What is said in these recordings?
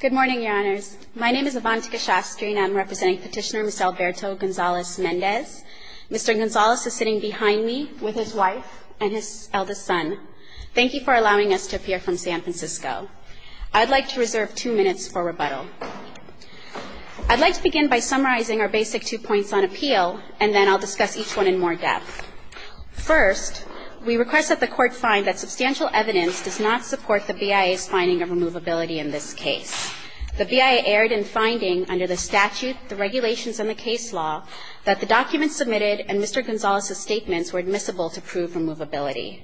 Good morning, Your Honors. My name is Avantika Shastri, and I'm representing petitioner, Ms. Alberto Gonzalez-Mendez. Mr. Gonzalez is sitting behind me with his wife and his eldest son. Thank you for allowing us to appear from San Francisco. I'd like to reserve two minutes for rebuttal. I'd like to begin by summarizing our basic two points on appeal, and then I'll discuss each one in more depth. First, we request that the court find that substantial evidence does not The BIA erred in finding, under the statute, the regulations, and the case law, that the documents submitted and Mr. Gonzalez's statements were admissible to prove removability.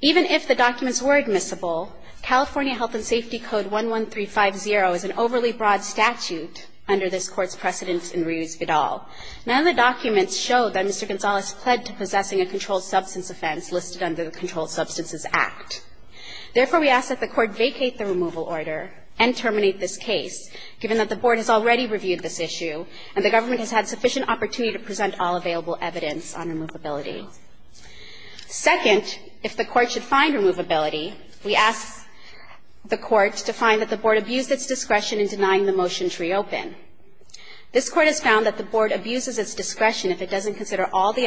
Even if the documents were admissible, California Health and Safety Code 11350 is an overly broad statute under this court's precedence in reuse at all. None of the documents show that Mr. Gonzalez pled to possessing a controlled substance offense listed under the Controlled Substances Act. Therefore, we ask that the court vacate the removal order and terminate this case, given that the board has already reviewed this issue and the government has had sufficient opportunity to present all available evidence on removability. Second, if the court should find removability, we ask the court to find that the board abused its discretion in denying the motion to reopen. This court has found that the board abuses its discretion if it doesn't consider all the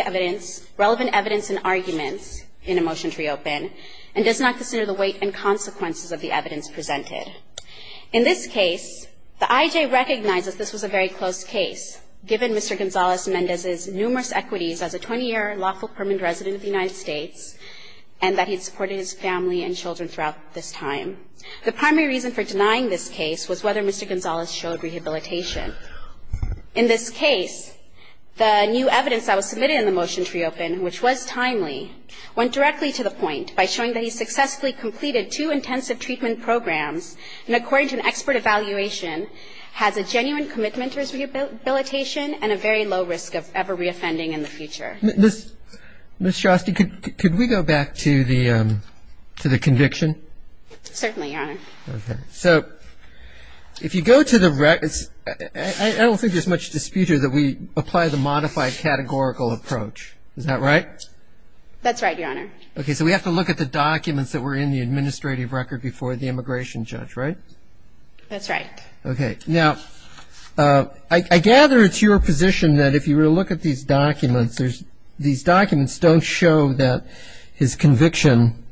relevant evidence and arguments in a motion to reopen and does not consider the weight and consequences of the evidence presented. In this case, the IJ recognizes this was a very close case, given Mr. Gonzalez Mendez's numerous equities as a 20-year lawful permanent resident of the United States and that he supported his family and children throughout this time. The primary reason for denying this case was whether Mr. Gonzalez showed rehabilitation. In this case, the new evidence that was submitted in the motion to reopen, which was timely, went directly to the point by showing that he successfully completed two intensive treatment programs and, according to an expert evaluation, has a genuine commitment to his rehabilitation and a very low risk of ever reoffending in the future. Ms. Shostek, could we go back to the conviction? Certainly, Your Honor. So if you go to the records, I don't think there's much dispute here that we apply the modified categorical approach. Is that right? That's right, Your Honor. OK, so we have to look at the documents that were in the administrative record before the immigration judge, right? That's right. OK, now, I gather it's your position that if you were to look at these documents, these documents don't show that his conviction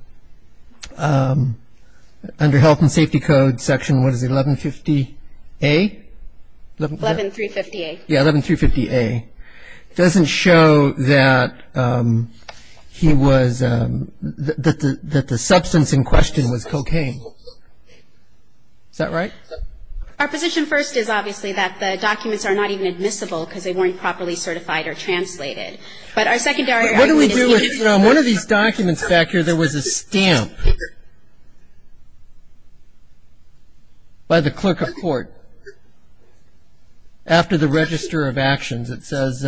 under health and safety code section, what is it, 1150A? 11350A. Yeah, 11350A. It doesn't show that the substance in question was cocaine. Is that right? Our position first is, obviously, that the documents are not even admissible because they weren't properly certified or translated. But our secondary argument is that he was. One of these documents back here, there was a stamp by the clerk of court after the register of actions. It says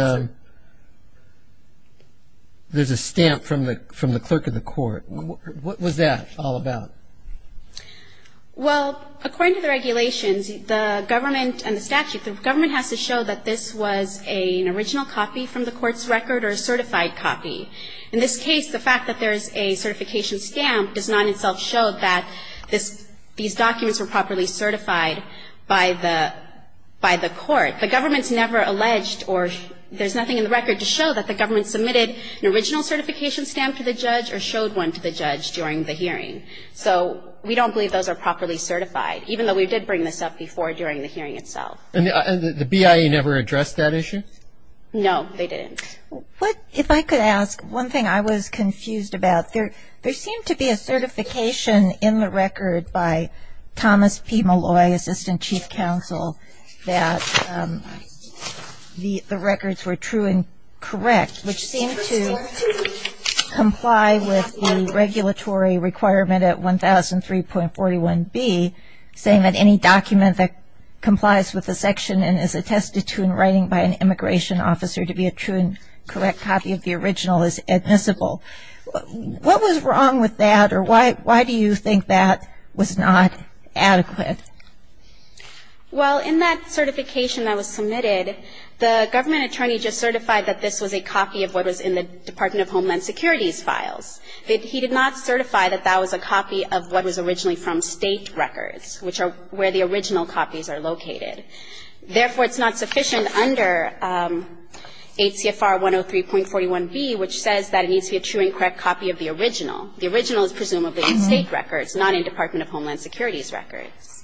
there's a stamp from the clerk of the court. What was that all about? Well, according to the regulations, the government and the statute, the government has to show that this was an original copy from the court's record or a certified copy. In this case, the fact that there is a certification stamp does not itself show that these documents were properly certified by the court. The government's never alleged or there's nothing in the record to show that the government submitted an original certification stamp to the judge or showed one to the judge during the hearing. So we don't believe those are properly certified, even though we did bring this up before during the hearing itself. And the BIA never addressed that issue? No, they didn't. If I could ask, one thing I was confused about, there seemed to be a certification in the record by Thomas P. Malloy, Assistant Chief Counsel, that the records were true and correct, which seemed to comply with the regulatory requirement at 1003.41b, saying that any document that complies with the section and is attested to in writing by an immigration officer to be a true and correct copy of the original is admissible. What was wrong with that, or why do you think that was not adequate? Well, in that certification that was submitted, the government attorney just certified that this was a copy of what was in the Department of Homeland Securities files. He did not certify that that was a copy of what was originally from state records, which are where the original copies are located. Therefore, it's not sufficient under 8 CFR 103.41b, which says that it needs to be a true and correct copy of the original. The original is presumably in state records, not in Department of Homeland Security's records.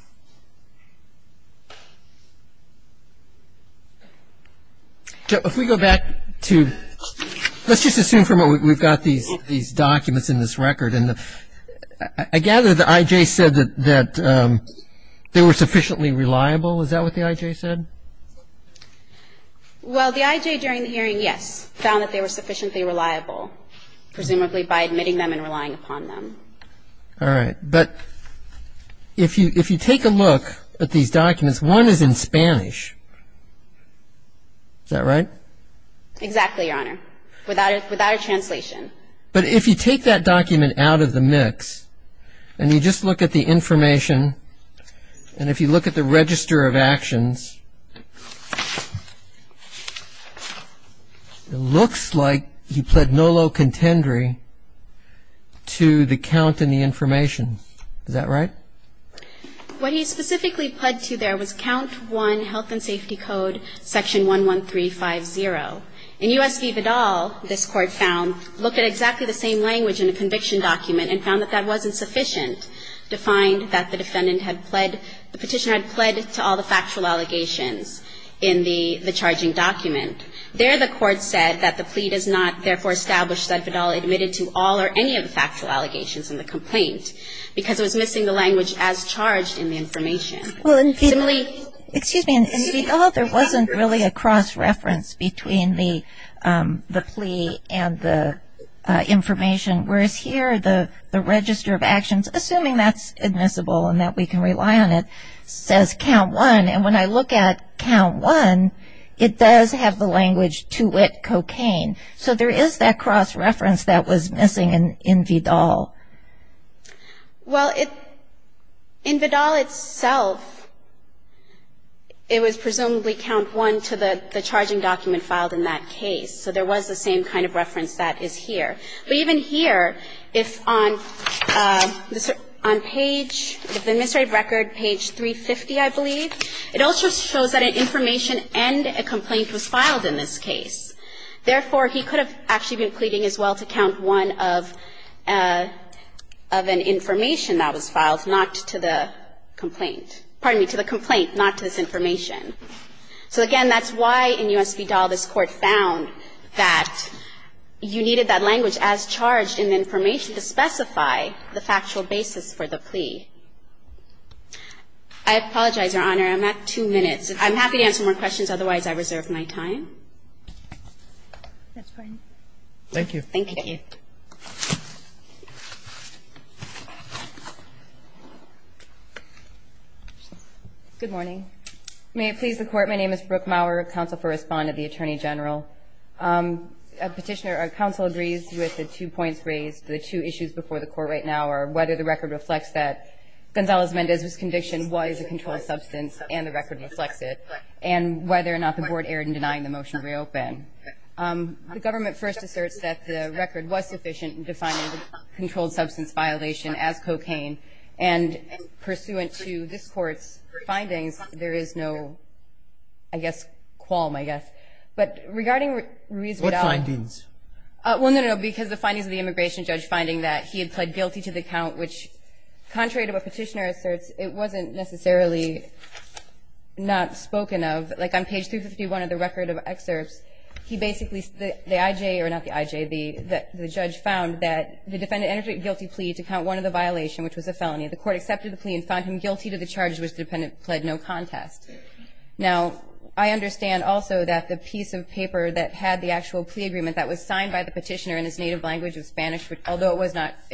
If we go back to, let's just assume from what we've got these documents in this record. And I gather the IJ said that they were sufficiently reliable. Is that what the IJ said? Well, the IJ during the hearing, yes, found that they were sufficiently reliable, presumably by admitting them and relying upon them. All right, but if you take a look at these documents, one is in Spanish. Is that right? Exactly, Your Honor, without a translation. But if you take that document out of the mix, and you just look at the information, and if you look at the register of actions, it looks like he pled no low contendery to the count and the information. Is that right? What he specifically pled to there was count one health and safety code section 11350. In U.S. v. Vidal, this court found, looked at exactly the same language in the conviction document and found that that wasn't sufficient to find that the defendant had pled, the petitioner had pled to all the factual allegations. In the charging document, there the court said that the plea does not therefore establish that Vidal admitted to all or any of the factual allegations in the complaint because it was missing the language as charged in the information. Excuse me, in Vidal there wasn't really a cross-reference between the plea and the information, whereas here the register of actions, assuming that's admissible and that we can rely on it, says count one. And when I look at count one, it does have the language to it cocaine. So there is that cross-reference that was missing in Vidal. Well, in Vidal itself, it was presumably count one to the charging document filed in that case. So there was the same kind of reference that is here. But even here, if on page, the administrative record, page 350, I believe, it also shows that an information and a complaint was filed in this case. Therefore, he could have actually been pleading as well to count one of an information that was filed not to the complaint, pardon me, to the complaint, not to this information. So again, that's why in U.S. v. Vidal, this court found that you needed that language as charged in the information to specify the factual basis for the plea. I apologize, Your Honor. I'm at two minutes. I'm happy to answer more questions. Otherwise, I reserve my time. That's fine. Thank you. Thank you. Thank you. Good morning. May it please the Court, my name is Brooke Maurer, counsel for respondent, the attorney general. Petitioner, our counsel agrees with the two points raised, the two issues before the court right now are whether the record reflects that Gonzalez-Mendez's conviction was a controlled substance and the record reflects it, and whether or not the board erred in denying the motion to reopen. The government first asserts that the record was sufficient in defining the controlled substance violation as cocaine. And pursuant to this court's findings, there is no, I guess, qualm, I guess. But regarding Ruiz-Vidal. What findings? Well, no, no, no. Because the findings of the immigration judge finding that he had pled guilty to the count, which contrary to what Petitioner asserts, it wasn't necessarily not spoken of. Like on page 351 of the record of excerpts, he basically, the IJ, or not the IJ, the judge found that the defendant entered a guilty plea to count one of the violations, which was a felony. The court accepted the plea and found him guilty to the charges which the defendant pled no contest. Now, I understand also that the piece of paper that had the actual plea agreement that was signed by the petitioner in his native language of Spanish, although it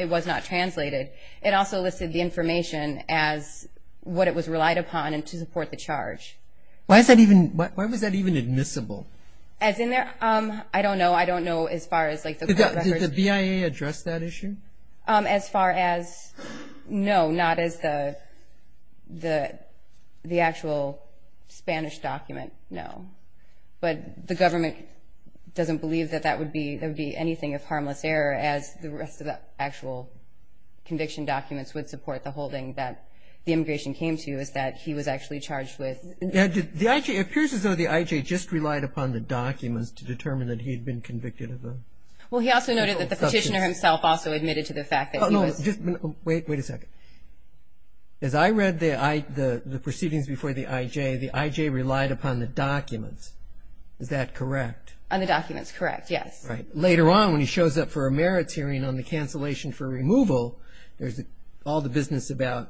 was not translated, it also listed the information as what it was relied upon and to support the charge. Why is that even, why was that even admissible? As in their, I don't know. I don't know as far as like the court records. Did the BIA address that issue? As far as, no, not as the actual Spanish document, no. But the government doesn't believe that that would be, there would be anything of harmless error as the rest of the actual conviction documents would support the holding that the immigration came to, is that he was actually charged with. The IJ, it appears as though the IJ just relied upon the documents to determine that he had been convicted of a. Well, he also noted that the petitioner himself also admitted to the fact that he was. Wait, wait a second. As I read the proceedings before the IJ, the IJ relied upon the documents, is that correct? On the documents, correct, yes. Right, later on when he shows up for a merits hearing on the cancellation for removal, there's all the business about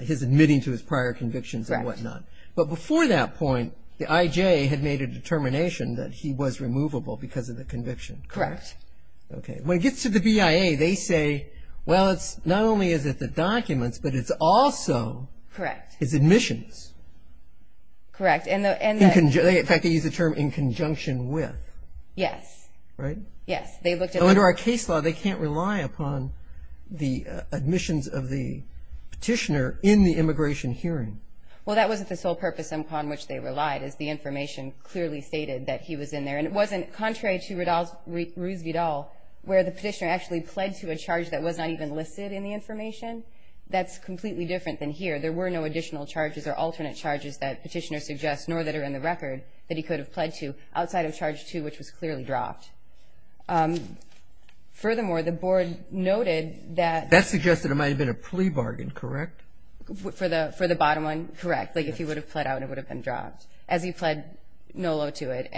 his admitting to his prior convictions and whatnot. But before that point, the IJ had made a determination that he was removable because of the conviction. Correct. Okay, when it gets to the BIA, they say, well, it's not only is it the documents, but it's also his admissions. Correct. In fact, they use the term in conjunction with. Yes. Right? Yes, they looked at the- Under our case law, they can't rely upon the admissions of the petitioner in the immigration hearing. Well, that wasn't the sole purpose upon which they relied, is the information clearly stated that he was in there. And it wasn't, contrary to Ruiz-Vidal, where the petitioner actually pled to a charge that was not even listed in the information. That's completely different than here. There were no additional charges or alternate charges that petitioner suggests, nor that are in the record that he could have pled to outside of charge two, which was clearly dropped. Furthermore, the board noted that- That suggested it might have been a plea bargain, correct? For the bottom one, correct. Like if he would have pled out, it would have been dropped. As he pled no low to it,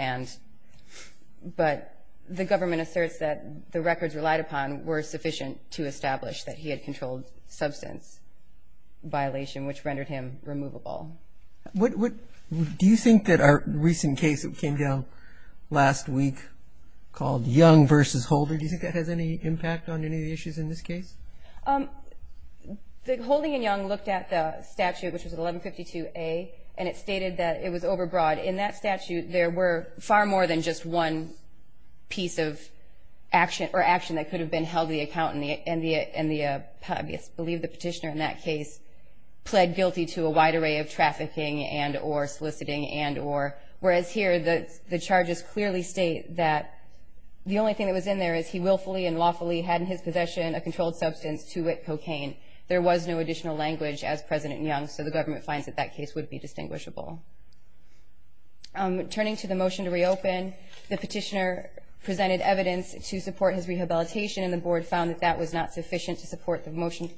but the government asserts that the records relied upon were sufficient to establish that he had controlled substance violation, which rendered him removable. What, do you think that our recent case that came down last week called Young versus Holder, do you think that has any impact on any of the issues in this case? The Holding and Young looked at the statute, which was 1152A, and it stated that it was overbroad. In that statute, there were far more than just one piece of action or action that could have been held and I believe the petitioner in that case pled guilty to a wide array of trafficking and or soliciting and or, whereas here, the charges clearly state that the only thing that was in there is he willfully and lawfully had in his possession a controlled substance, two-wit cocaine. There was no additional language as President Young, so the government finds that that case would be distinguishable. Turning to the motion to reopen, the petitioner presented evidence to support his rehabilitation and the board found that that was not sufficient to support the motion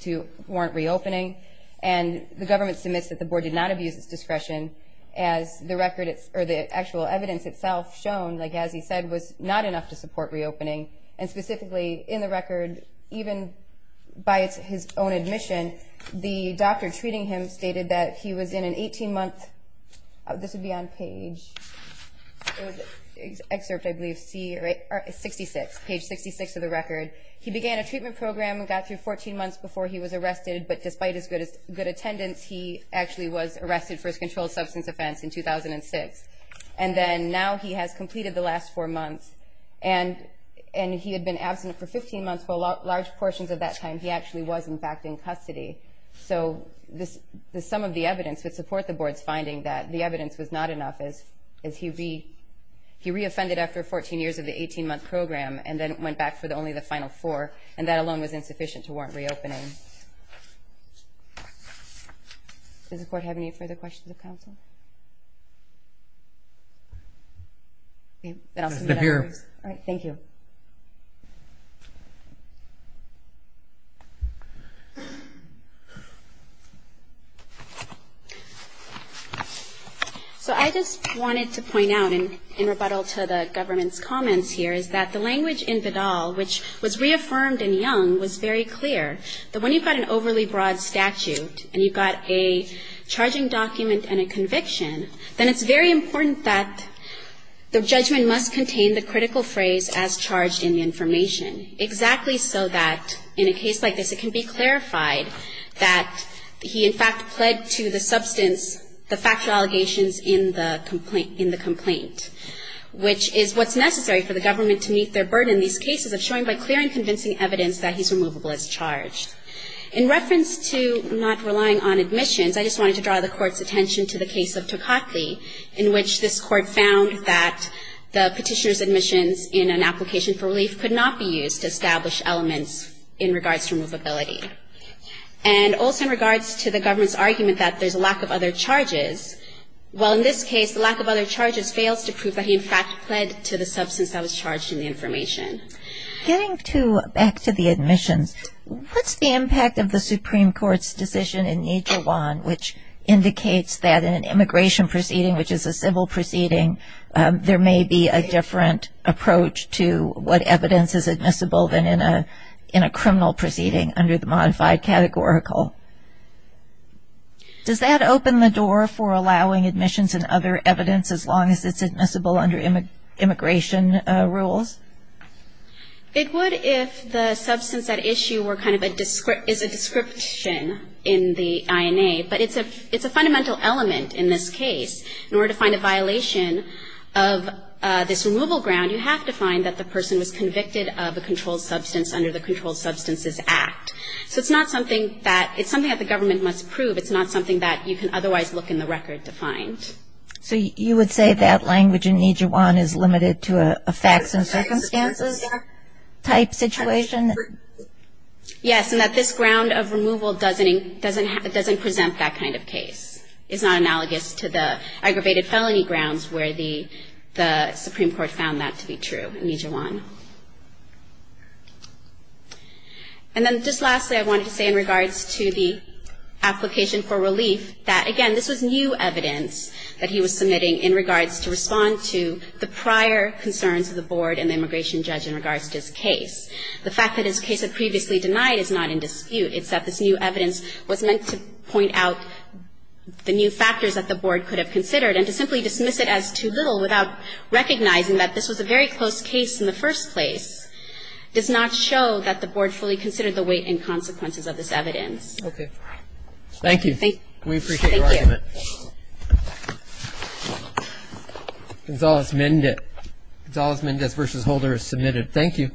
to warrant reopening and the government submits that the board did not abuse its discretion as the record, or the actual evidence itself shown, like as he said, was not enough to support reopening and specifically, in the record, even by his own admission, the doctor treating him stated that he was in an 18-month, this would be on page, it was excerpt, I believe, 66, page 66 of the record. He began a treatment program and got through 14 months before he was arrested, but despite his good attendance, he actually was arrested for his controlled substance offense in 2006 and then now he has completed the last four months and he had been absent for 15 months, but large portions of that time, he actually was, in fact, in custody, so the sum of the evidence would support the board's finding that the evidence was not enough as he re-offended after 14 years of the 18-month program and then went back for only the final four and that alone was insufficient to warrant reopening. Does the court have any further questions of counsel? Okay, then I'll submit that first. All right, thank you. So I just wanted to point out in rebuttal to the government's comments here is that the language in Vidal, which was reaffirmed in Young, was very clear that when you've got an overly broad statute and you've got a charging document and a conviction, then it's very important that the judgment must contain the critical phrase as charged in the information, exactly so that in a case like this, it can be clarified that he, in fact, pled to the substance, the factual allegations in the complaint, which is what's necessary for the government to meet their burden in these cases of showing by clear and convincing evidence that he's removable as charged. In reference to not relying on admissions, I just wanted to draw the court's attention to the case of Toccotti in which this court found that the petitioner's admissions in an application for relief could not be used to establish elements in regards to removability. And also in regards to the government's argument that there's a lack of other charges, well, in this case, the lack of other charges fails to prove that he, in fact, pled to the substance that was charged in the information. Getting back to the admissions, what's the impact of the Supreme Court's decision in Nijawan which indicates that in an immigration proceeding, which is a civil proceeding, there may be a different approach to what evidence is admissible than in a criminal proceeding under the modified categorical? Does that open the door for allowing admissions and other evidence as long as it's admissible under immigration rules? It would if the substance at issue were kind of a, is a description in the INA, but it's a fundamental element in this case. In order to find a violation of this removal ground, you have to find that the person was convicted of a controlled substance under the Controlled Substances Act. So it's not something that, it's something that the government must prove. It's not something that you can otherwise look in the record to find. So you would say that language in Nijawan is limited to a facts and circumstances type situation? Yes, and that this ground of removal doesn't present that kind of case. It's not analogous to the aggravated felony grounds where the Supreme Court found that to be true in Nijawan. And then just lastly, I wanted to say in regards to the application for relief that, again, this was new evidence that he was submitting in regards to respond to the prior concerns of the board and the immigration judge in regards to this case. The fact that this case had previously denied is not in dispute. It's that this new evidence was meant to point out the new factors that the board could have considered and to simply dismiss it as too little without recognizing that this was a very close case in the first place does not show that the board fully considered the weight and consequences of this evidence. Okay. Thank you. We appreciate your argument. Gonzalez-Mendez versus Holder is submitted. Thank you.